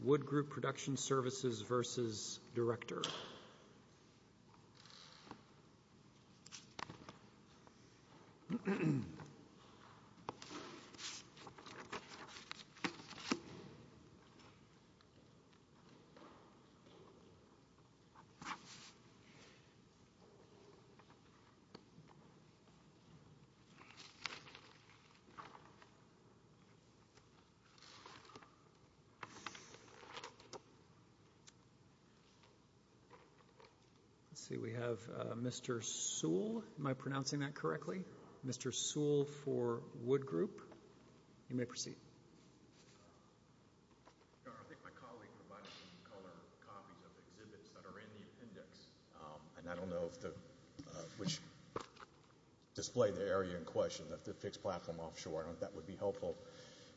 Wood Group Production Services v. Director Let's see, we have Mr. Sewell. Am I pronouncing that correctly? Mr. Sewell for Wood Group. You may proceed. I think my colleague provided some color copies of exhibits that are in the appendix, and I don't know which display the area in question, the fixed platform offshore. I don't know if that would be helpful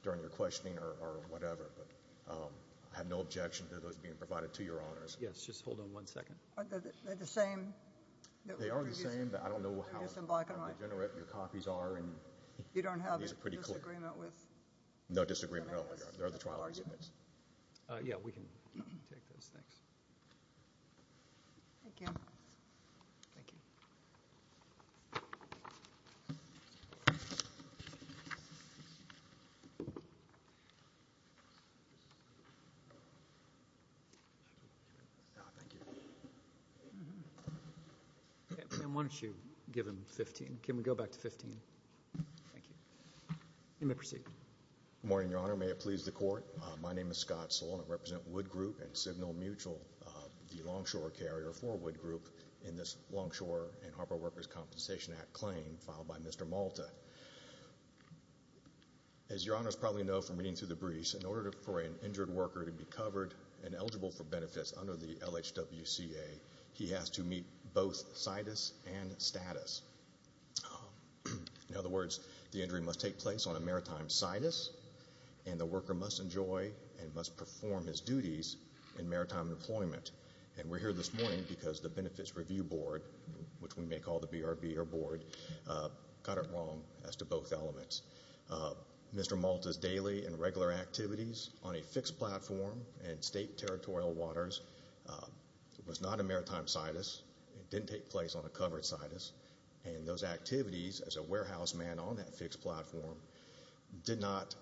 during your questioning or whatever, but I have no objection to those being provided to your honors. Yes, just hold on one second. Are they the same? They are the same, but I don't know how degenerate your copies are, and these are pretty clear. You don't have a disagreement with? No disagreement, there are the trial exhibits. Yeah, we can take those, thanks. Thank you. Thank you. And why don't you give him 15? Can we go back to 15? Thank you. You may proceed. Good morning, Your Honor. May it please the Court, my name is Scott Sewell and I represent Wood Group and Signal Mutual, the longshore carrier for Wood Group in this Longshore and As your honors probably know from reading through the briefs, in order for an injured worker to be covered and eligible for benefits under the LHWCA, he has to meet both situs and status. In other words, the injury must take place on a maritime situs, and the worker must enjoy and must perform his duties in maritime employment. And we're here this morning because the Benefits Review Board, which we may call the BRB or Board, got it wrong as to both elements. Mr. Malta's daily and regular activities on a fixed platform and state territorial waters was not a maritime situs, it didn't take place on a covered situs, and those activities as a warehouse man on that fixed platform did not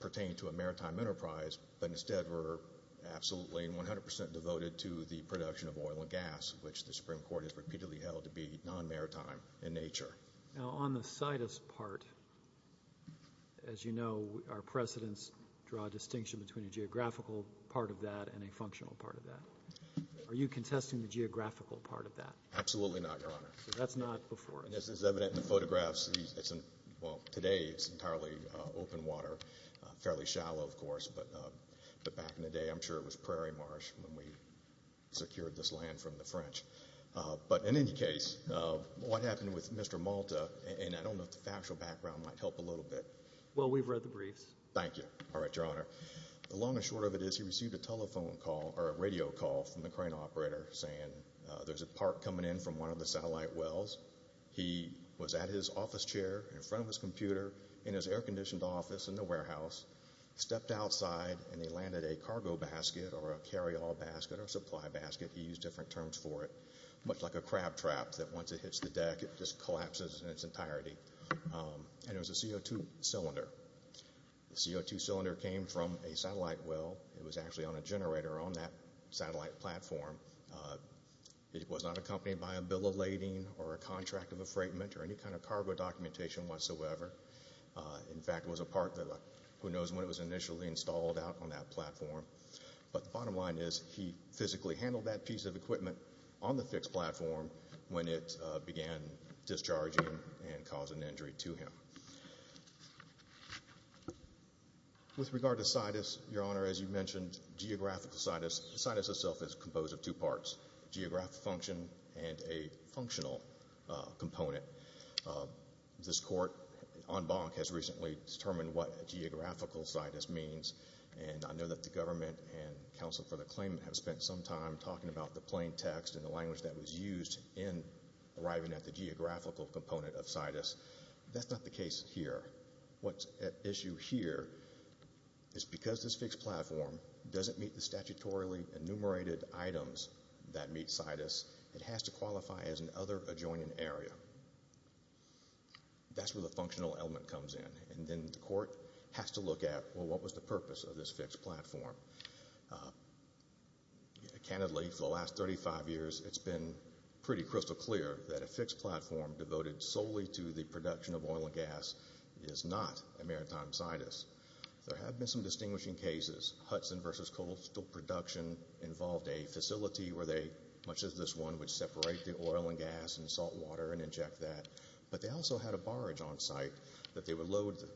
pertain to a maritime enterprise, but instead were absolutely and 100% devoted to the production of oil and gas, which the Supreme Court has repeatedly held to be non-maritime in nature. Now on the situs part, as you know, our precedents draw a distinction between a geographical part of that and a functional part of that. Are you contesting the geographical part of that? Absolutely not, your honor. That's not before us. This is evident in the photographs. Today it's entirely open water, fairly shallow of course, but back in the day I'm sure it was prairie marsh when we secured this land from the French. But in any case, what happened with Mr. Malta, and I don't know if the factual background might help a little bit. Well, we've read the briefs. Thank you. All right, your honor. The long and short of it is he received a telephone call, or a radio call, from the crane operator saying there's a part coming in from one of the satellite wells. He was at his office chair in front of his computer in his air-conditioned office in the warehouse, stepped outside, and he landed a cargo basket or a carry-all basket or a supply basket, he used different terms for it, much like a crab trap that once it hits the deck it just collapses in its entirety. And it was a CO2 cylinder. The CO2 cylinder came from a satellite well. It was actually on a generator on that satellite platform. It was not accompanied by a bill of lading or a contract of a freightment or any kind of cargo documentation whatsoever. In fact, it was a part that, who knows when it was initially installed out on that platform. But the bottom line is he physically handled that piece of equipment on the fixed platform when it began discharging and causing injury to him. With regard to situs, your honor, as you mentioned, geographical situs, situs itself is composed of two parts, geographic function and a functional component. This court, en banc, has recently determined what a geographical situs means. And I know that the government and counsel for the claimant have spent some time talking about the plain text and the language that was used in arriving at the geographical component of situs. That's not the case here. What's at issue here is because this fixed platform doesn't meet the statutorily enumerated items that meet situs, it has to qualify as an other adjoining area. That's where the functional element comes in. And then the court has to look at, well, what was the purpose of this fixed platform? Candidly, for the last 35 years, it's been pretty crystal clear that a fixed platform devoted solely to the production of oil and gas is not a maritime situs. There have been some distinguishing cases. Hudson v. Coastal Production involved a facility where they, much as this one, would separate the oil and gas and salt water and inject that. But they also had a barge on site that they would load the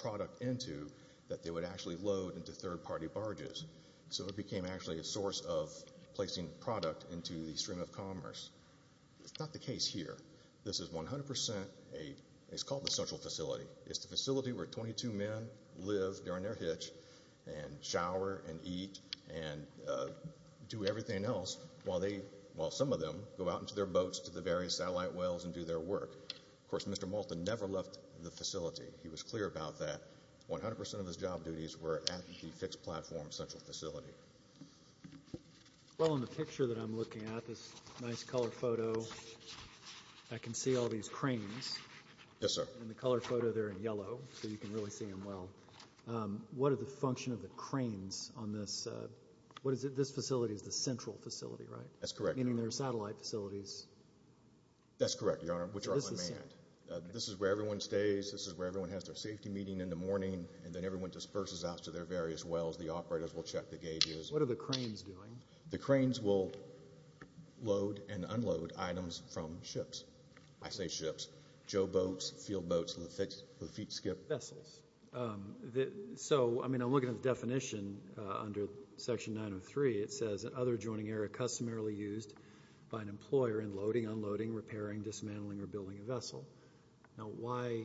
product into that they would actually load into third party barges. So it became actually a source of placing product into the stream of commerce. It's not the case here. This is 100% a, it's called the social facility. It's the facility where 22 men live during their hitch and shower and eat and do everything else while some of them go out into their boats to the various satellite wells and do their work. Of course, Mr. Malton never left the facility. He was clear about that. 100% of his job duties were at the fixed platform social facility. Well, in the picture that I'm looking at, this nice color photo, I can see all these cranes. Yes, sir. In the color photo, they're in yellow, so you can really see them well. What are the function of the cranes on this? What is it? This facility is the central facility, right? That's correct. Meaning there are satellite facilities. That's correct, Your Honor, which are unmanned. This is where everyone stays. This is where everyone has their safety meeting in the morning, and then everyone disperses out to their various wells. The operators will check the gauges. What are the cranes doing? The cranes will load and unload items from ships. I say ships. Joe boats, field boats, and the feet skip. Vessels. I'm looking at the definition under Section 903. It says, other joining area customarily used by an employer in loading, unloading, repairing, dismantling, or building a vessel. Now, why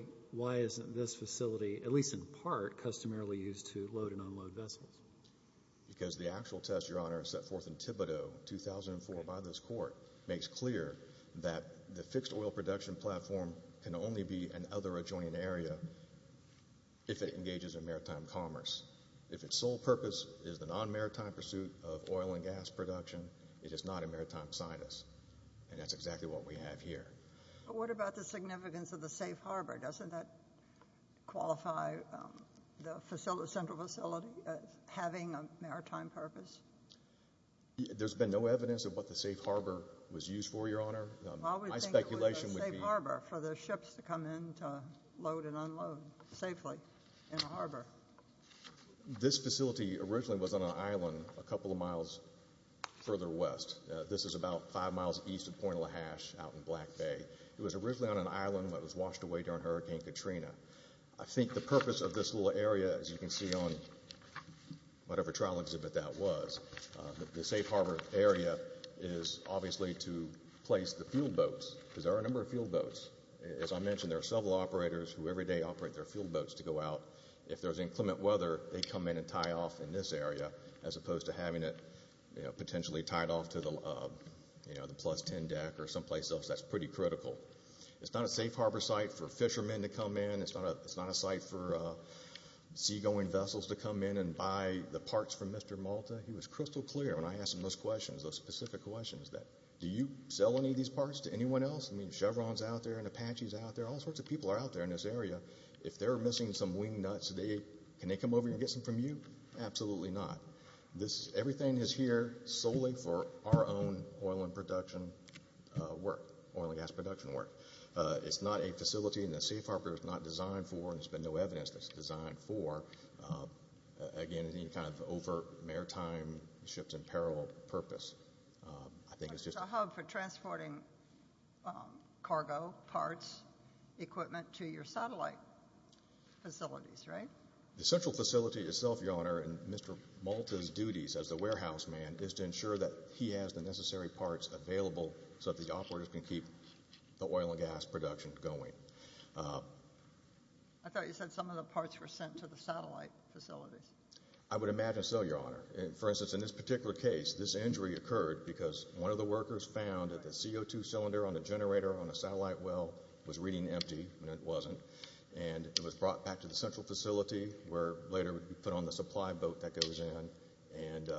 isn't this facility, at least in part, customarily used to load and unload vessels? Because the actual test, Your Honor, set forth in that fixed oil production platform can only be an other adjoining area if it engages in maritime commerce. If its sole purpose is the non-maritime pursuit of oil and gas production, it is not a maritime sinus, and that's exactly what we have here. But what about the significance of the safe harbor? Doesn't that qualify the central facility as having a maritime purpose? There's been no evidence of what the safe harbor was used for, Your Honor. Well, we think it was a safe harbor for the ships to come in to load and unload safely in a harbor. This facility originally was on an island a couple of miles further west. This is about five miles east of Point LaHashe out in Black Bay. It was originally on an island that was washed away during Hurricane Katrina. I think the purpose of this little area, as you can see on whatever trial exhibit that was, the safe harbor area is obviously to place the fuel boats, because there are a number of fuel boats. As I mentioned, there are several operators who every day operate their fuel boats to go out. If there's inclement weather, they come in and tie off in this area as opposed to having it potentially tied off to the plus 10 deck or someplace else. That's pretty critical. It's not a safe harbor site for fishermen to come in. It's not a site for seagoing vessels to come in and buy the parts from Mr. Malta. He was crystal clear when I asked him those questions, those specific questions. Do you sell any of these parts to anyone else? I mean, Chevron's out there and Apache's out there. All sorts of people are out there in this area. If they're missing some wing nuts, can they come over here and get some from you? Absolutely not. Everything is here solely for our own oil and production work, oil and gas production work. It's not a facility, and the safe harbor is not designed for, and there's been no evidence that it's designed for, again, any kind of overt maritime ships in peril purpose. I think it's just a hub for transporting cargo parts, equipment to your satellite facilities, right? The central facility itself, Your Honor, and Mr. Malta's duties as the warehouse man is to ensure that he has the necessary parts available so that the operators can keep the oil and gas production going. I thought you said some of the parts were sent to the satellite facilities. I would imagine so, Your Honor. For instance, in this particular case, this injury occurred because one of the workers found that the CO2 cylinder on the generator on the satellite well was reading empty, and it wasn't. It was brought back to the central facility where later it would be put on the supply boat that goes in and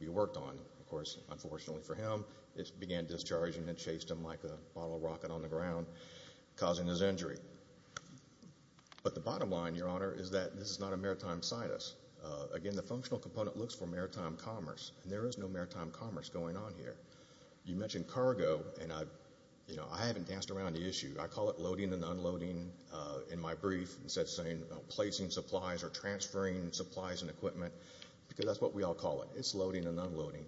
be worked on. Of course, unfortunately for him, it began discharging and chased him like a bottle rocket on the ground, causing his injury. But the bottom line, Your Honor, is that this is not a maritime situs. Again, the functional component looks for maritime commerce, and there is no maritime commerce going on here. You mentioned cargo, and I haven't danced around the issue. I call it loading and unloading in my brief, instead of saying placing supplies or transferring supplies and equipment, because that's what we all call it. It's loading and unloading.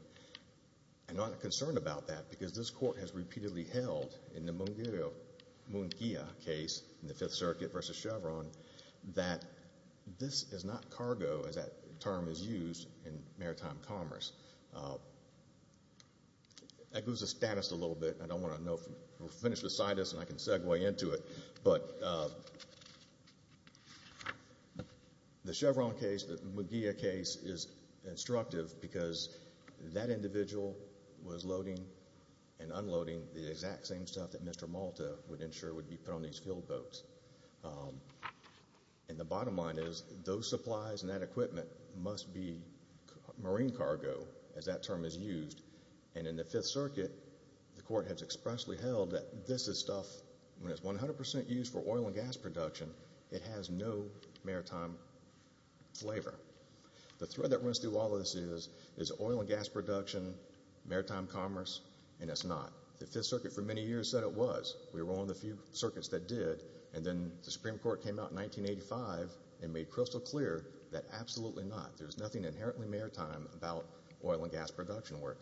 I'm not concerned about that because this court has repeatedly held in the Munguia case in the Fifth Circuit versus Chevron that this is not cargo, as that term is used in maritime commerce. That goes to status a little bit. I don't want to finish the situs and I can segue into it, but the Chevron case, the Munguia case is instructive because that individual was loading and unloading the exact same stuff that Mr. Malta would ensure would be put on these field boats. And the bottom line is, those supplies and that equipment must be marine cargo, as that term is used. And in the Fifth Circuit, the court has expressly held that this is stuff, when it's 100% used for oil and gas production, it has no maritime flavor. The thread that runs through all of this is oil and gas production, maritime commerce, and it's not. The Fifth Circuit for many years said it was. We were one of the few circuits that did. And then the Supreme Court came out in 1985 and made crystal clear that absolutely not. There's nothing inherently maritime about oil and gas production work.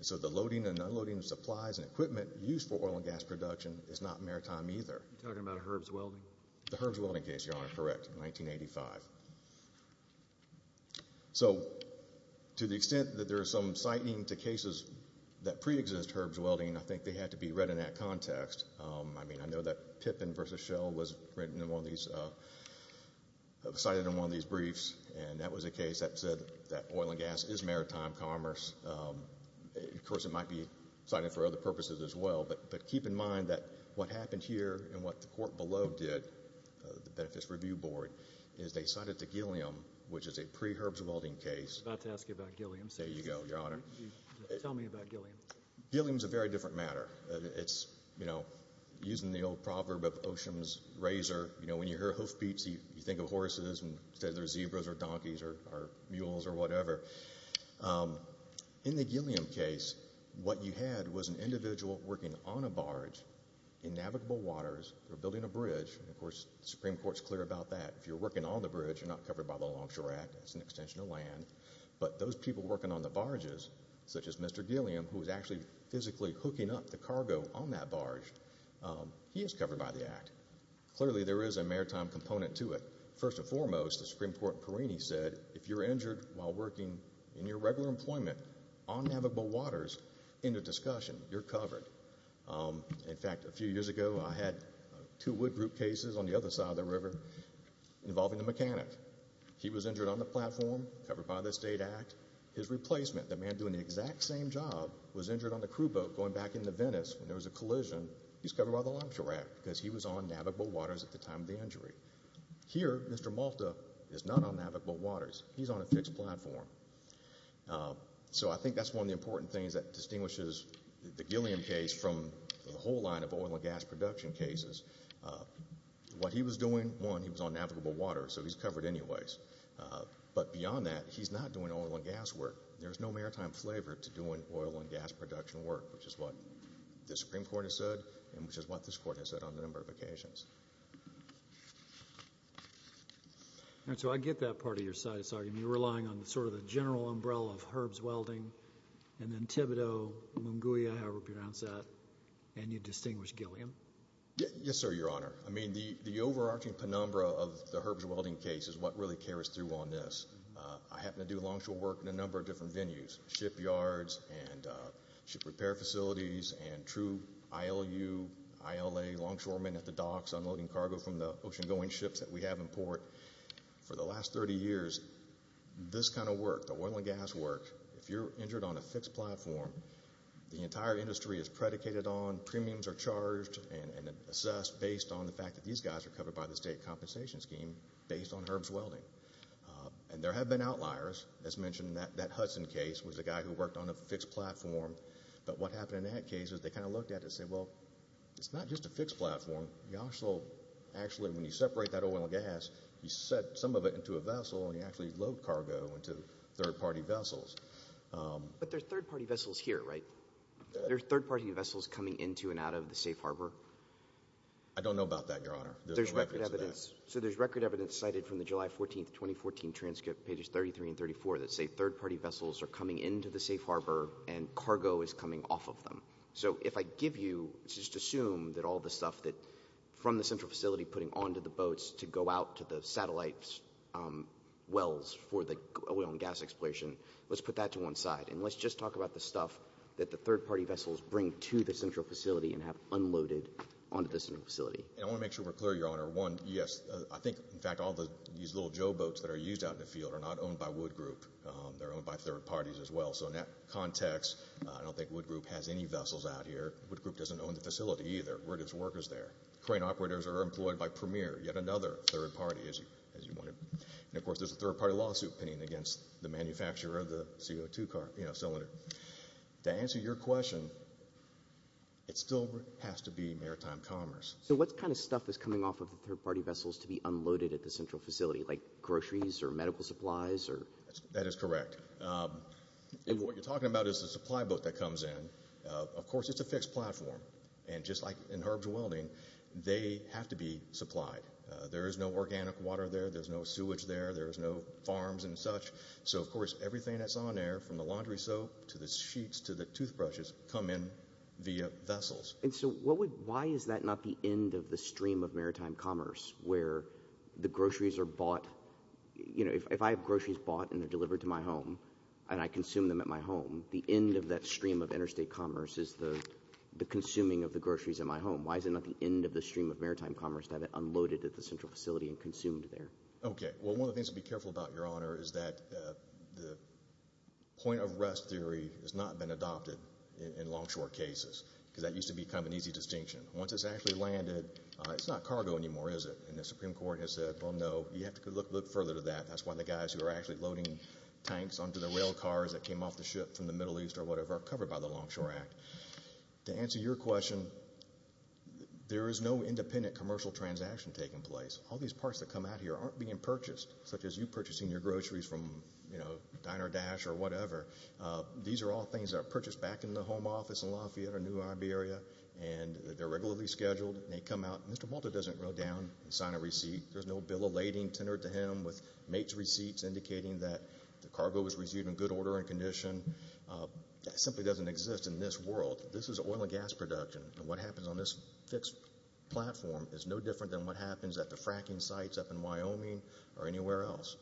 So the loading and unloading of supplies and equipment used for oil and gas production is not maritime either. You're talking about Herb's Welding? The Herb's Welding case, Your Honor, correct, in 1985. So, to the extent that there is some citing to cases that pre-exist Herb's Welding, I think they had to be read in that context. I mean, I know that Pippin v. Schell was written in one of these, cited in one of these briefs, and that was a case that said that oil and gas is maritime commerce. Of course, it might be cited for other purposes as well, but keep in mind that what happened here and what the court below did, the Benefits Review Board, is they cited the Gilliam, which is a pre-Herb's Welding case. I was about to ask you about Gilliam. There you go, Your Honor. Tell me about Gilliam. Gilliam's a very different matter. It's, you know, using the old proverb of Oshom's razor, you know, when you hear hoofbeats you think of horses and instead they're zebras or donkeys or mules or whatever. In the Gilliam case, what you had was an individual working on a barge in navigable waters. They're building a bridge. Of course, the Supreme Court's clear about that. If you're working on the bridge, you're not covered by the Longshore Act. It's an extension of land. But those people working on the barges, such as Mr. Gilliam, who was actually physically hooking up the cargo on that barge, he is covered by the Act. Clearly, there is a maritime component to it. First and foremost, the Supreme Court in Perini said, if you're injured while working in your regular employment on navigable waters, end of discussion. You're covered. In fact, a few years ago, I had two wood group cases on the other side of the river involving the mechanic. He was injured on the platform, covered by the State Act. His replacement, the man doing the exact same job, was injured on the crew boat going back into Venice when there was a collision. He's covered by the Longshore Act because he was on navigable waters at the time of the injury. Here, Mr. Malta is not on navigable waters. He's on a fixed platform. So I think that's one of the important things that distinguishes the Gilliam case from the whole line of oil and gas production cases. What he was doing, one, he was on navigable waters, so he's covered anyways. But beyond that, he's not doing oil and gas work. There's no maritime flavor to doing oil and gas production work, which is what the Supreme Court has said, and which is what this Court has said on a number of occasions. And so I get that part of your side of this argument. You're relying on sort of the general umbrella of Herb's Welding and then Thibodeau, Lunguia, however we pronounce that, and you distinguish Gilliam? Yes, sir, Your Honor. I mean, the overarching penumbra of the Herb's Welding case is what really carries through on this. I happen to do longshore work in a number of different venues, shipyards and ship repair facilities and true ILU, ILA longshoremen at the docks unloading cargo from the ocean-going ships that we have in port. For the last 30 years, this kind of work, the oil and gas work, if you're injured on a fixed platform, the entire industry is predicated on premiums are charged and assessed based on the fact that these guys are covered by the state compensation scheme based on Herb's Welding. And there have been outliers. As mentioned, that Hudson case was a guy who worked on a fixed platform. But what happened in that case is they kind of looked at it and said, well, it's not just a fixed platform. You also actually, when you separate that oil and gas, you set some of it into a vessel and you actually load cargo into third-party vessels here, right? There are third-party vessels coming into and out of the safe harbor. I don't know about that, Your Honor. There's record evidence. So there's record evidence cited from the July 14, 2014 transcript, pages 33 and 34, that say third-party vessels are coming into the safe harbor and cargo is coming off of them. So if I give you, just assume that all the stuff that from the central facility, putting onto the boats to go out to the satellite wells for the oil and gas exploration, let's put that to one side. And let's just talk about the stuff that the third-party vessels bring to the central facility and have unloaded onto the facility. And I want to make sure we're clear, Your Honor. One, yes, I think, in fact, all these little Joe boats that are used out in the field are not owned by Wood Group. They're owned by third parties as well. So in that context, I don't think Wood Group has any vessels out here. Wood Group doesn't own the facility either. We're just workers there. Crane operators are employed by Premier, yet another third party, as you wanted. And, of course, there's a third-party lawsuit pending against the manufacturer of the CO2 cylinder. To answer your question, it still has to be maritime commerce. So what kind of stuff is coming off of the third-party vessels to be unloaded at the central facility, like groceries or medical supplies? That is correct. And what I'm saying is that all of the materials that are used in herbs welding, they have to be supplied. There is no organic water there. There's no sewage there. There's no farms and such. So, of course, everything that's on there, from the laundry soap to the sheets to the toothbrushes, come in via vessels. And so why is that not the end of the stream of maritime commerce, where the groceries are bought? You know, if I have groceries bought and they're delivered to my home and I have them delivered to my home, why is it not the end of the stream of maritime commerce to have it unloaded at the central facility and consumed there? Okay. Well, one of the things to be careful about, Your Honor, is that the point-of-rest theory has not been adopted in longshore cases, because that used to be kind of an easy distinction. Once it's actually landed, it's not cargo anymore, is it? And the Supreme Court has said, well, no, you have to look further to that. That's why the guys who are actually loading tanks onto the rail cars that came off the ship, there is no independent commercial transaction taking place. All these parts that come out here aren't being purchased, such as you purchasing your groceries from, you know, Diner Dash or whatever. These are all things that are purchased back in the home office in Lafayette or New Iberia, and they're regularly scheduled, and they come out. Mr. Malta doesn't go down and sign a receipt. There's no bill of lading tendered to him with mate's receipts indicating that the cargo was received in good order and condition. That simply doesn't exist in this world. This is oil and gas production, and what happens on this fixed platform is no different than what happens at the fracking sites up in Wyoming or anywhere else.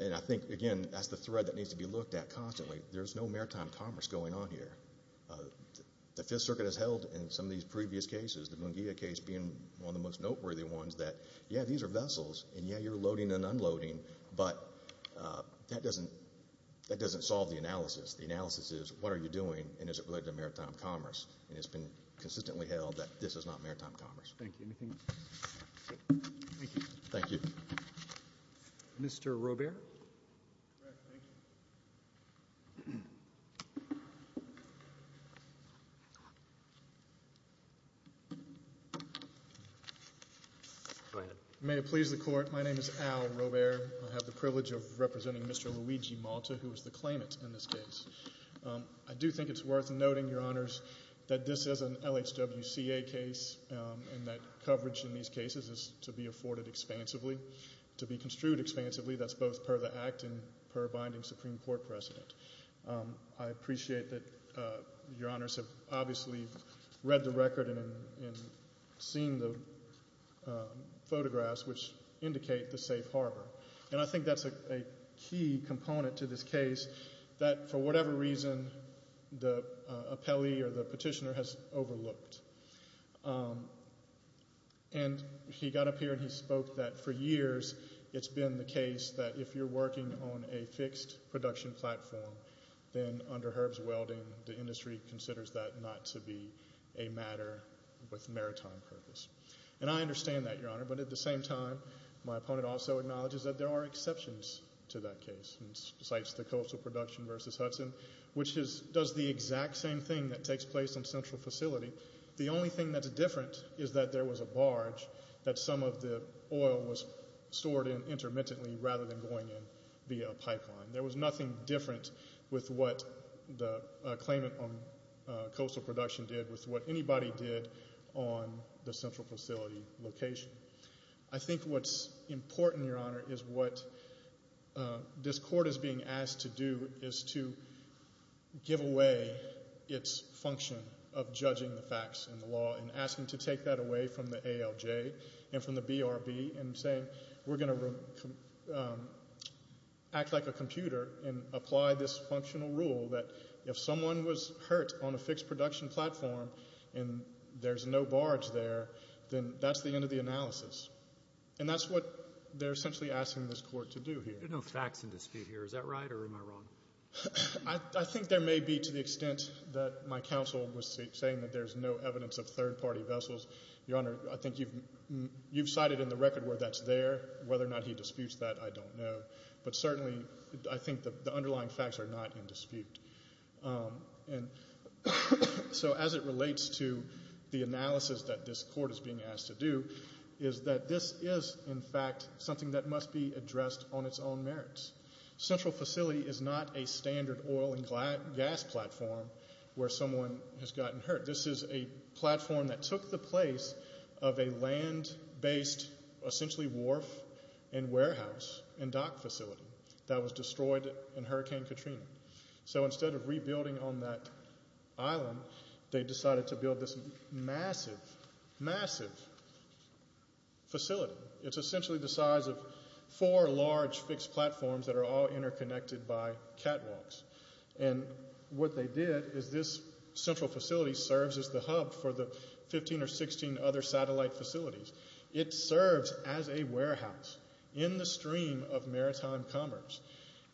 And I think, again, that's the thread that needs to be looked at constantly. There's no maritime commerce going on here. The Fifth Circuit has held in some of these previous cases, the Munguia case being one of the most noteworthy ones, that, yeah, these are vessels, and yeah, you're loading and unloading, but that doesn't solve the analysis. The analysis is, what are you doing, and is it related to maritime commerce? And it's been consistently held that this is not maritime commerce. Thank you. Anything else? Thank you. Mr. Robert? Correct. Thank you. Go ahead. May it please the Court, my name is Al Robert. I have the privilege of representing Mr. Luigi Malta, who is the claimant in this case. I do think it's worth noting, Your Honors, that this is an LHWCA case and that coverage in these cases is to be afforded expansively, to be construed expansively. That's both per the Act and per binding Supreme Court precedent. I appreciate that Your Honors have obviously read the record and seen the photographs, which indicate the safe harbor. And I think that's a key component to this case that, for whatever reason, the claimant, he got up here and he spoke that for years it's been the case that if you're working on a fixed production platform, then under Herb's welding, the industry considers that not to be a matter with maritime purpose. And I understand that, Your Honor, but at the same time, my opponent also acknowledges that there are exceptions to that case, besides the coastal production versus Hudson, which does the exact same thing that takes place on Central Facility. The only thing that's different is that there was a barge that some of the oil was stored in intermittently rather than going in via a pipeline. There was nothing different with what the claimant on coastal production did with what anybody did on the Central Facility location. I think what's important, Your Honor, is what this function of judging the facts in the law and asking to take that away from the ALJ and from the BRB and saying we're going to act like a computer and apply this functional rule that if someone was hurt on a fixed production platform and there's no barge there, then that's the end of the analysis. And that's what they're essentially asking this Court to do here. There are no facts in dispute here. Is that right or am I wrong? I think there may be to the extent that my counsel was saying that there's no evidence of third party vessels. Your Honor, I think you've cited in the record where that's there. Whether or not he disputes that, I don't know. But certainly I think the underlying facts are not in dispute. So as it relates to the analysis that this Court is being asked to do, is that this is in fact something that must be addressed on its own merits. Central Facility is not a standard oil and gas platform where someone has gotten hurt. This is a platform that took the place of a land-based essentially wharf and warehouse and dock facility that was destroyed in Hurricane Katrina. So instead of rebuilding on that facility, it's essentially the size of four large fixed platforms that are all interconnected by catwalks. And what they did is this Central Facility serves as the hub for the 15 or 16 other satellite facilities. It serves as a warehouse in the stream of maritime commerce.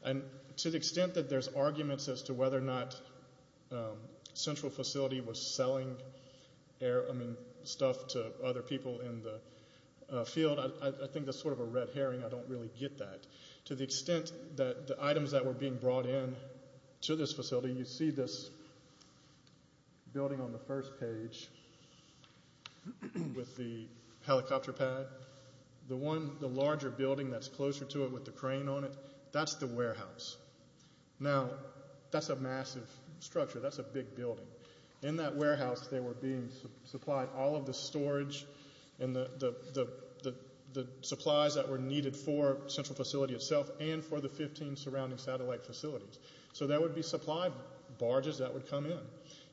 And to the extent that there's arguments as to whether or not this is stuff to other people in the field, I think that's sort of a red herring. I don't really get that. To the extent that the items that were being brought in to this facility, you see this building on the first page with the helicopter pad. The larger building that's closer to it with the crane on it, that's the warehouse. Now, that's a massive structure. That's a big building. In that warehouse they were being supplied all of the storage and the supplies that were needed for Central Facility itself and for the 15 surrounding satellite facilities. So there would be supply barges that would come in.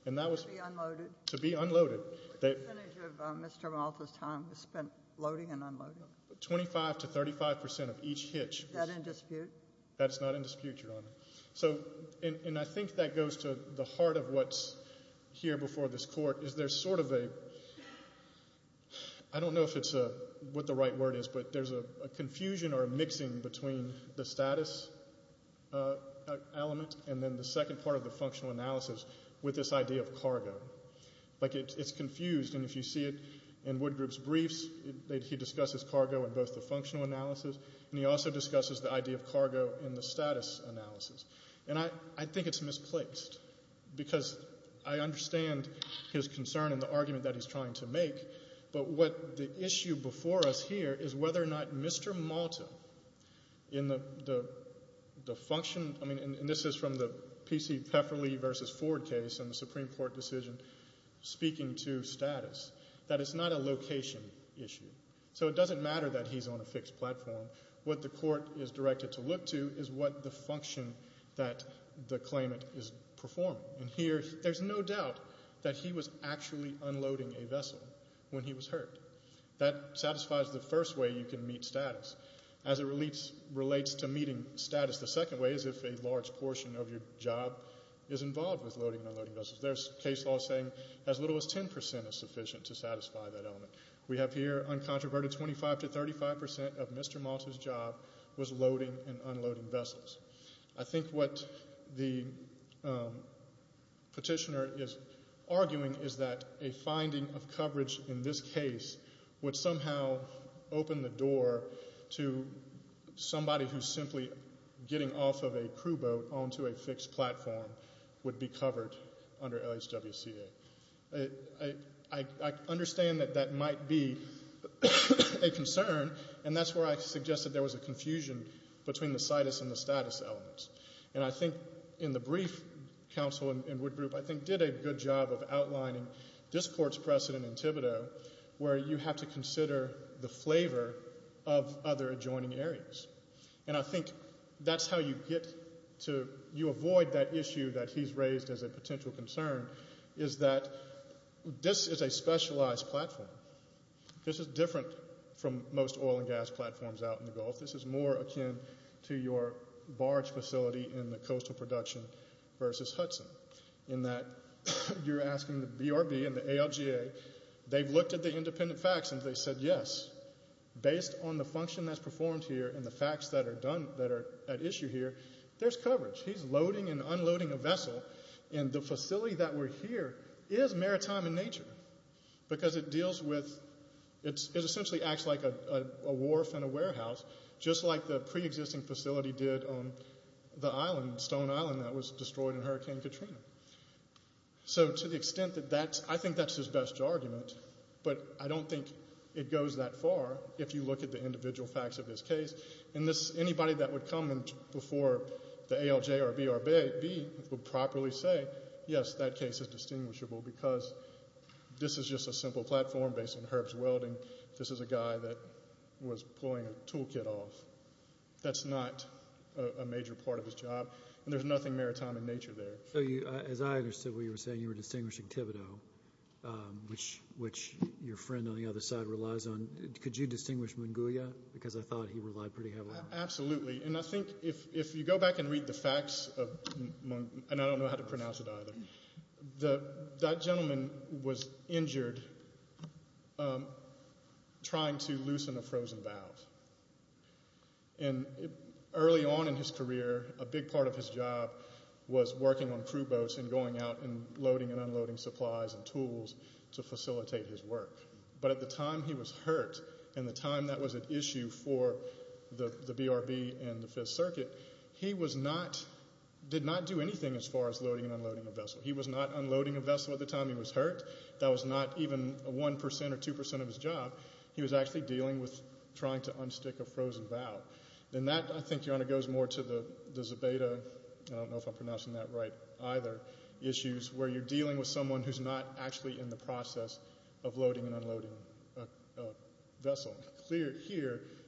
To be unloaded. What percentage of Mr. Malta's time was spent loading and unloading? Twenty-five to thirty-five percent of each hitch. Is that in dispute? That's not in dispute, Your Honor. And I think that goes to the heart of what's here before this court. Is there sort of a, I don't know if it's what the right word is, but there's a confusion or a mixing between the status element and then the second part of the functional analysis with this idea of cargo. Like it's confused and if you see it in Woodgrove's briefs, he discusses cargo in both the functional analysis and he also discusses the idea of cargo in the status analysis. And I think it's misplaced because I understand his concern and the argument that he's trying to make, but what the issue before us here is whether or not Mr. Malta in the function, I mean, and this is from the P.C. Pefferley versus Ford case and the Supreme Court decision speaking to status, that it's not a location issue. So it doesn't matter that he's on a fixed platform. What the court is directed to look to is what the function that the claimant is performing. And here, there's no doubt that he was actually unloading a vessel when he was hurt. That satisfies the first way you can meet status. As it relates to meeting status, the second way is if a large portion of your job is involved with loading and unloading vessels. There's case law saying as little as 10% is sufficient to satisfy that element. We have here uncontroverted 25 to 35% of Mr. Malta's job was loading and unloading vessels. I think what the petitioner is arguing is that a finding of coverage in this case would somehow open the door to somebody who's simply getting off of a crew boat onto a fixed platform would be covered under LHWCA. I understand that that might be a concern, and that's where I suggested there was a confusion between the situs and the status elements. And I think in the brief, counsel in Wood Group, I think did a good job of outlining this court's precedent in Thibodeau where you have to consider the flavor of other adjoining areas. And I think that's how you get to avoid that issue that he's raised as a potential concern is that this is a specialized platform. This is different from most oil and gas production versus Hudson in that you're asking the BRB and the ALGA. They've looked at the independent facts, and they said, yes, based on the function that's performed here and the facts that are at issue here, there's coverage. He's loading and unloading a vessel, and the facility that we're here is maritime in nature because it deals with, it essentially acts like a wharf and a warehouse, just like the preexisting facility did on the Stone Island that was destroyed in Hurricane Katrina. So to the extent that that's, I think that's his best argument, but I don't think it goes that far if you look at the individual facts of this case. And anybody that would come before the ALJ or BRB would properly say, yes, that case is distinguishable because this is just a simple platform based on Herb's welding. This is a guy that was pulling a tool kit off. That's not a major part of his job, and there's nothing maritime in nature there. So as I understood what you were saying, you were distinguishing Thibodeau, which your friend on the other side relies on. Could you distinguish Mongolia because I thought he relied pretty heavily on it? Absolutely, and I think if you go back and read the facts of, and I don't know how to pronounce it either, that gentleman was injured trying to loosen a frozen valve. And early on in his career, a big part of his job was working on crew boats and going out and loading and unloading supplies and tools to facilitate his work. But at the time he was hurt and the time that was an issue for the BRB and the 5th Circuit, he did not do anything as far as loading and unloading a vessel. He was not unloading a vessel at the time he was hurt. That was not even 1% or 2% of his job. He was actually dealing with trying to unstick a frozen valve. And that, I think, Your Honor, goes more to the Zobeda, I don't know if I'm pronouncing that right either, issues where you're dealing with someone who's not actually in the boat,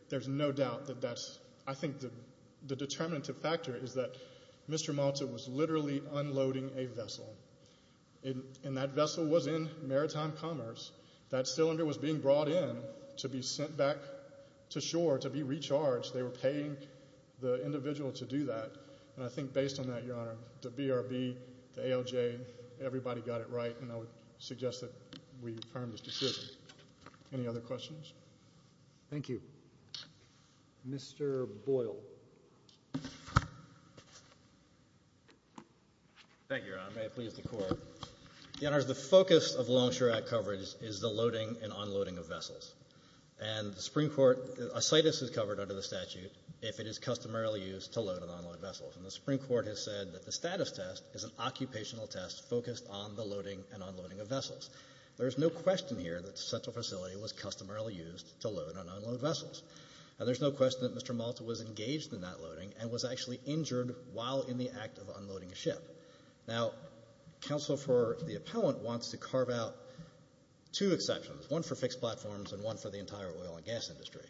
there's no doubt that that's, I think the determinative factor is that Mr. Malta was literally unloading a vessel. And that vessel was in Maritime Commerce. That cylinder was being brought in to be sent back to shore to be recharged. They were paying the individual to do that. And I think based on that, Your Honor, the BRB, the ALJ, everybody got it right, and I would suggest that we affirm this decision. Any other questions? Thank you. Mr. Boyle. Thank you, Your Honor. May it please the Court. Your Honor, the focus of Longshore Act coverage is the loading and unloading of vessels. And the Supreme Court, a CITUS is covered under the statute if it is customarily used to load and unload vessels. And the Supreme Court has said that the there's no question here that such a facility was customarily used to load and unload vessels. And there's no question that Mr. Malta was engaged in that loading and was actually injured while in the act of unloading a ship. Now, counsel for the appellant wants to carve out two exceptions, one for fixed platforms and one for the entire oil and gas industry.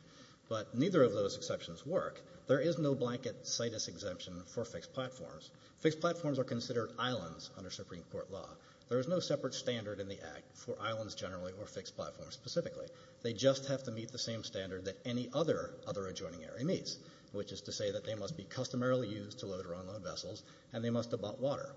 But neither of those exceptions work. There is no blanket CITUS exemption for fixed platforms. Fixed platforms are considered islands under Supreme Court law. There is no separate standard in the act for islands generally or fixed platforms specifically. They just have to meet the same standard that any other other adjoining area meets, which is to say that they must be customarily used to load or unload vessels and they must abut water.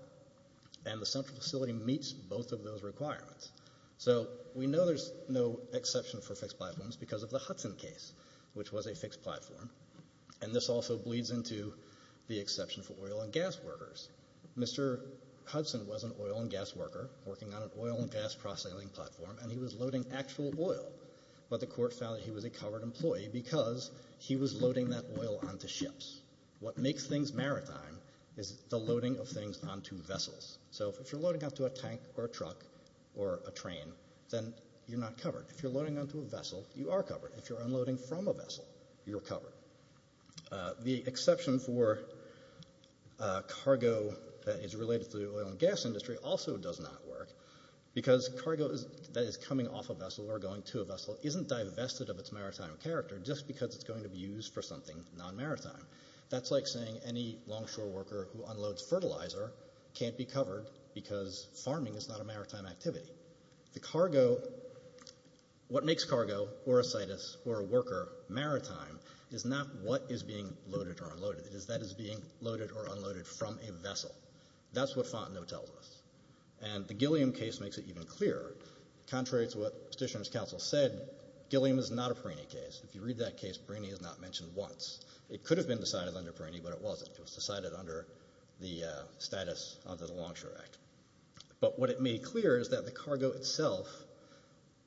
And the central facility meets both of those requirements. So we know there's no exception for fixed platforms because of the Hudson case, which was a fixed platform. And this also bleeds into the exception for oil and gas workers. Mr. Hudson was an oil and gas worker working on an oil and gas cross-sailing platform, and he was loading actual oil. But the court found that he was a covered employee because he was loading that oil onto ships. What makes things maritime is the loading of things onto vessels. So if you're loading onto a tank or a truck or a train, then you're not covered. If you're loading onto a vessel, you are covered. If you're unloading from a vessel, you're covered. The exception for cargo that is related to the oil and gas industry also does not work because cargo that is coming off a vessel or going to a vessel isn't divested of its maritime character just because it's going to be used for something non-maritime. That's like saying any longshore worker who unloads fertilizer can't be covered because farming is not a maritime activity. What makes cargo, or a situs, or a worker maritime is not what is being loaded or unloaded. It is that is being loaded or unloaded from a vessel. That's what Fontenot tells us. And the Gilliam case makes it even clearer. Contrary to what Petitioner's counsel said, Gilliam is not a Perini case. If you read that case, Perini is not mentioned once. It could have been decided under Perini, but it wasn't. It was decided under the status of the Longshore Act. But what it made clear is that the cargo itself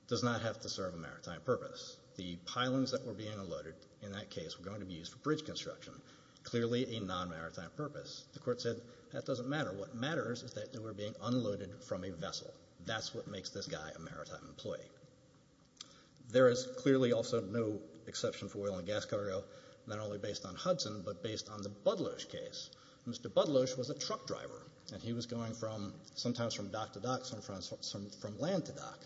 does not have to serve a maritime purpose. The pilings that were being unloaded in that case were going to be used for bridge construction, clearly a non-maritime purpose. The court said that doesn't matter. What matters is that they were being unloaded from a vessel. That's what makes this guy a maritime employee. There is clearly also no exception for oil and gas cargo, not only based on Hudson, but based on the Budlosh case. Mr. Budlosh was a truck driver. And he was going sometimes from dock to dock, sometimes from land to dock.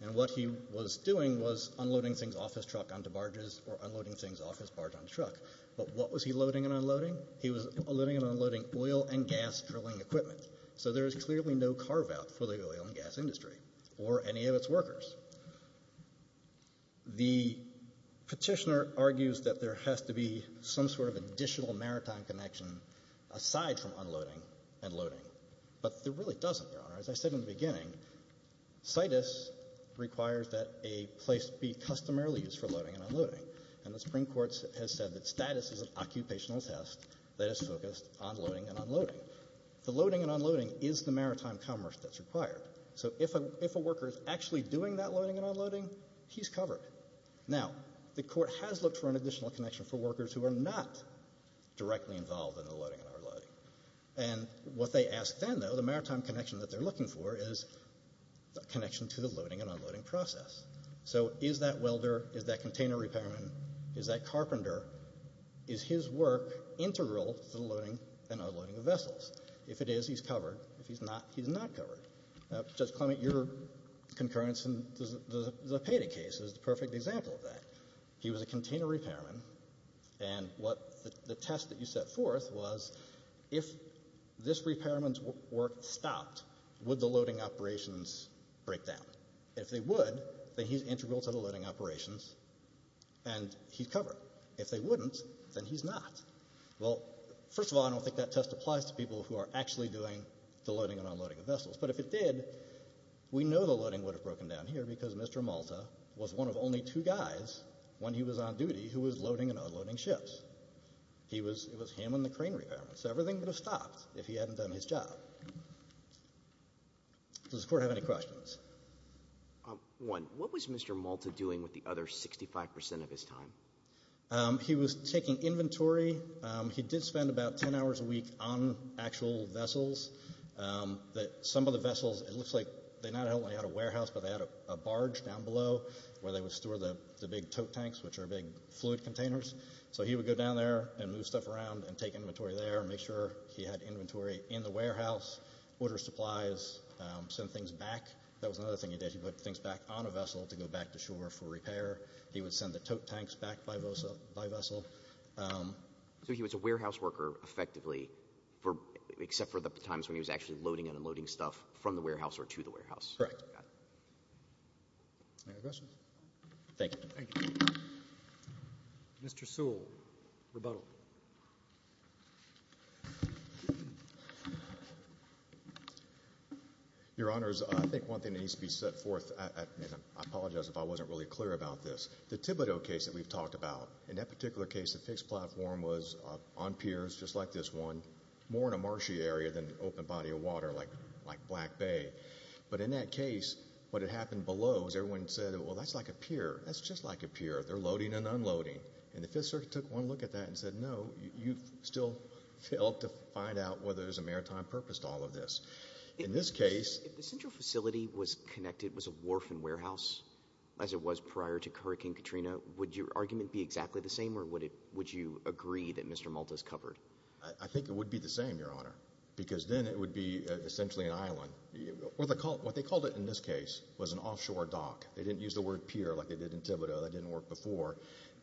And what he was doing was unloading things off his truck onto barges, or unloading things off his barge onto truck. But what was he loading and unloading? He was loading and unloading oil and gas drilling equipment. So there is clearly no carve-out for the oil and gas industry or any of its workers. The Petitioner argues that there has to be some sort of additional maritime connection aside from unloading and loading. But there really doesn't, Your Honor. As I said in the beginning, CITUS requires that a place be customarily used for loading and unloading. And the Supreme Court has said that the loading and unloading is the maritime commerce that's required. So if a worker is actually doing that loading and unloading, he's covered. Now, the Court has looked for an additional connection for workers who are not directly involved in the loading and unloading. And what they ask then, though, the maritime connection that they're looking for is the connection to the loading and unloading process. So is that welder, is that container repairman, is that carpenter, is his work integral to the loading and unloading of vessels? If it is, he's covered. If he's not, he's not covered. Now, Judge Clement, your concurrence in the Peta case is the perfect example of that. He was a container repairman, and what the test that you set forth was, if this repairman's work stopped, would the loading operations break down? If they would, then he's integral to the loading operations and he's covered. If they wouldn't, then he's not. Well, first of all, I don't think that test applies to people who are actually doing the loading and unloading of vessels. But if it did, we know the loading would have broken down here because Mr. Malta was one of only two guys when he was on duty who was loading and unloading ships. He was — it was him and the crane repairman. So everything would have stopped if he hadn't done his job. Does the Court have any questions? One, what was Mr. Malta doing with the other 65 percent of his time? He was taking inventory. He did spend about 10 hours a week on actual vessels. Some of the vessels, it looks like they not only had a warehouse, but they had a barge down below where they would store the big tote tanks, which are big fluid containers. So he would go down there and move stuff around and take inventory there and make sure he had inventory in the warehouse, order supplies, send things back. That was another thing he did. He put things back on a vessel to go back to shore for repair. He would send the tote tanks back by vessel. So he was a warehouse worker, effectively, except for the times when he was actually loading and unloading stuff from the warehouse or to the warehouse. Correct. Any other questions? Thank you. Thank you. Mr. Sewell, rebuttal. Your Honors, I think one thing that needs to be set forth, and I apologize if I wasn't really clear about this. The Thibodeau case that we've talked about, in that particular case, the fixed platform was on piers just like this one, more in a marshy area than an open body of water like Black Bay. But in that case, what had happened below was everyone said, well, that's like a pier. That's just like a pier. They're loading and unloading. And the Fifth Circuit took one look at that and said, no, you've still failed to find out whether there's a maritime purpose to all of this. In this case... If the central facility was connected, was a wharf and warehouse, as it was prior to Hurricane Katrina, would your argument be exactly the same, or would you agree that Mr. Malta's covered? I think it would be the same, Your Honor, because then it would be essentially an island. What they called it in this case was an offshore dock. They didn't use the word pier like they did in Thibodeau. That didn't work before.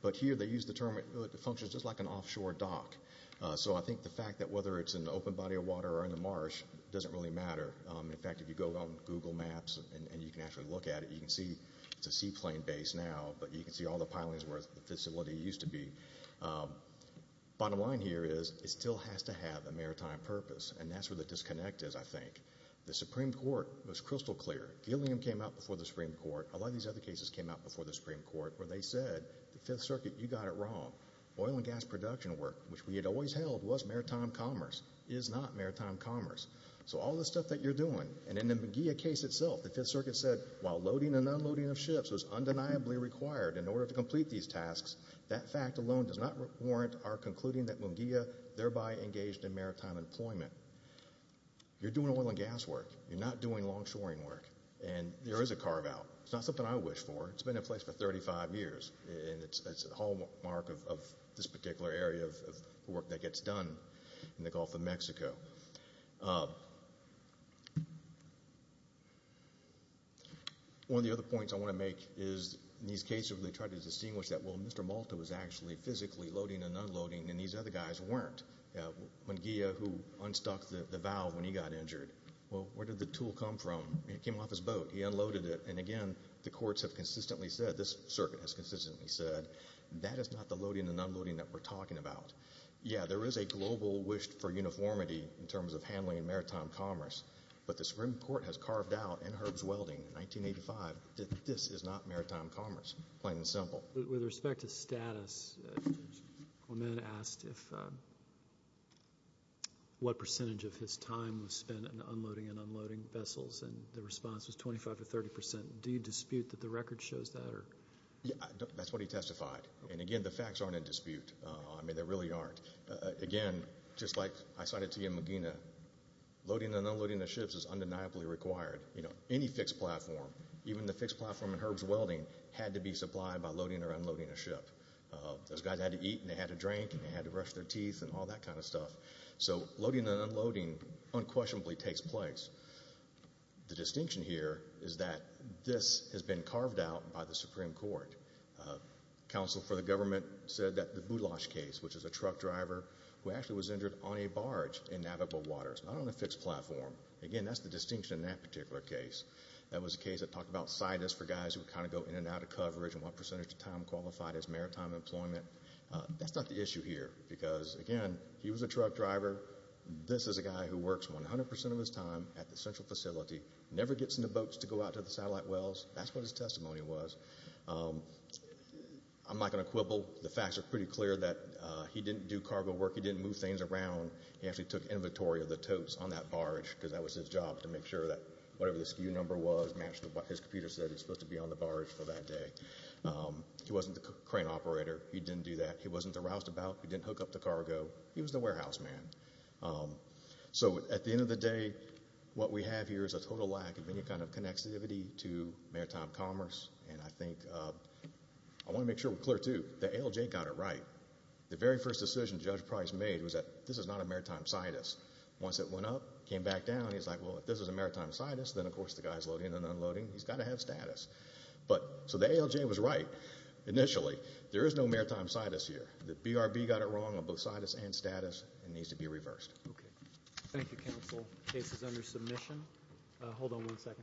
But here they used the term, it functions just like an offshore dock. So I think the fact that whether it's an open body of water or in the marsh doesn't really matter. In fact, if you go on Google Maps and you can actually look at it, you can see it's a seaplane base now, but you can see all the pilings where the facility used to be. Bottom line here is it still has to have a maritime purpose. And that's where the disconnect is, I think. The Supreme Court was crystal clear. Gilliam came out before the Supreme Court. A lot of these other cases came out before the Supreme Court where they said, the Fifth Circuit, you got it wrong. Oil and gas production work, which we had always held was maritime commerce, is not maritime commerce. So all the stuff that you're doing, and in the Munguia case itself, the Fifth Circuit said while loading and unloading of ships was undeniably required in order to complete these tasks, that fact alone does not warrant our concluding that Munguia thereby engaged in maritime employment. You're doing oil and gas work. You're not doing long-shoring work. And there is a carve-out. It's not something I wish for. It's been in place for 35 years. And it's a hallmark of this particular area of work that gets done in the Gulf of Mexico. One of the other points I want to make is in these cases where they try to distinguish that, well, Mr. Malta was actually physically loading and unloading and these other guys weren't. Munguia, who unstuck the valve when he got injured, well, where did the tool come from? It came off his boat. He unloaded it. And again, the courts have consistently said, this circuit has consistently said, that is not the loading and unloading that we're talking about. Yeah, there is a global wish for uniformity in terms of handling maritime commerce, but the Supreme Court has carved out in Herb's Welding in 1985 that this is not maritime commerce, plain and simple. With respect to status, Clement asked what percentage of his time was spent in unloading and unloading vessels, and the response was 25 to 30 percent. Do you dispute that the record shows that? That's what he testified. And again, the facts aren't in dispute. I mean, they really aren't. Again, just like I cited to you in Munguia, loading and unloading of ships is undeniably required. You know, any fixed platform, even the fixed platform in Herb's Welding, had to be supplied by loading or unloading a ship. Those guys had to eat and they had to drink and they had to brush their teeth and all that kind of stuff. So, loading and unloading unquestionably takes place. The distinction here is that this has been carved out by the Supreme Court. Counsel for the government said that the Boulash case, which is a truck driver who actually was injured on a barge in navigable waters, not on a fixed platform, again, that's the distinction in that particular case. That was a case that talked about sideness for guys who would kind of go in and out of their centers to time qualified as maritime employment. That's not the issue here because, again, he was a truck driver. This is a guy who works 100% of his time at the central facility, never gets in the boats to go out to the satellite wells. That's what his testimony was. I'm not going to quibble. The facts are pretty clear that he didn't do cargo work. He didn't move things around. He actually took inventory of the totes on that barge because that was his job to make sure that whatever the SKU number was matched to what his computer said was supposed to be. He wasn't the crane operator. He didn't do that. He wasn't the roustabout. He didn't hook up the cargo. He was the warehouse man. At the end of the day, what we have here is a total lack of any kind of connectivity to maritime commerce. I want to make sure we're clear, too. The ALJ got it right. The very first decision Judge Price made was that this is not a maritime scientist. Once it went up, came back down, he's like, well, if this is a maritime scientist, then of course the guy's loading and unloading. He's got to have status. The ALJ was right initially. There is no maritime scientist here. The BRB got it wrong on both scientist and status and needs to be reversed. Thank you, counsel. Case is under submission. Hold on one second.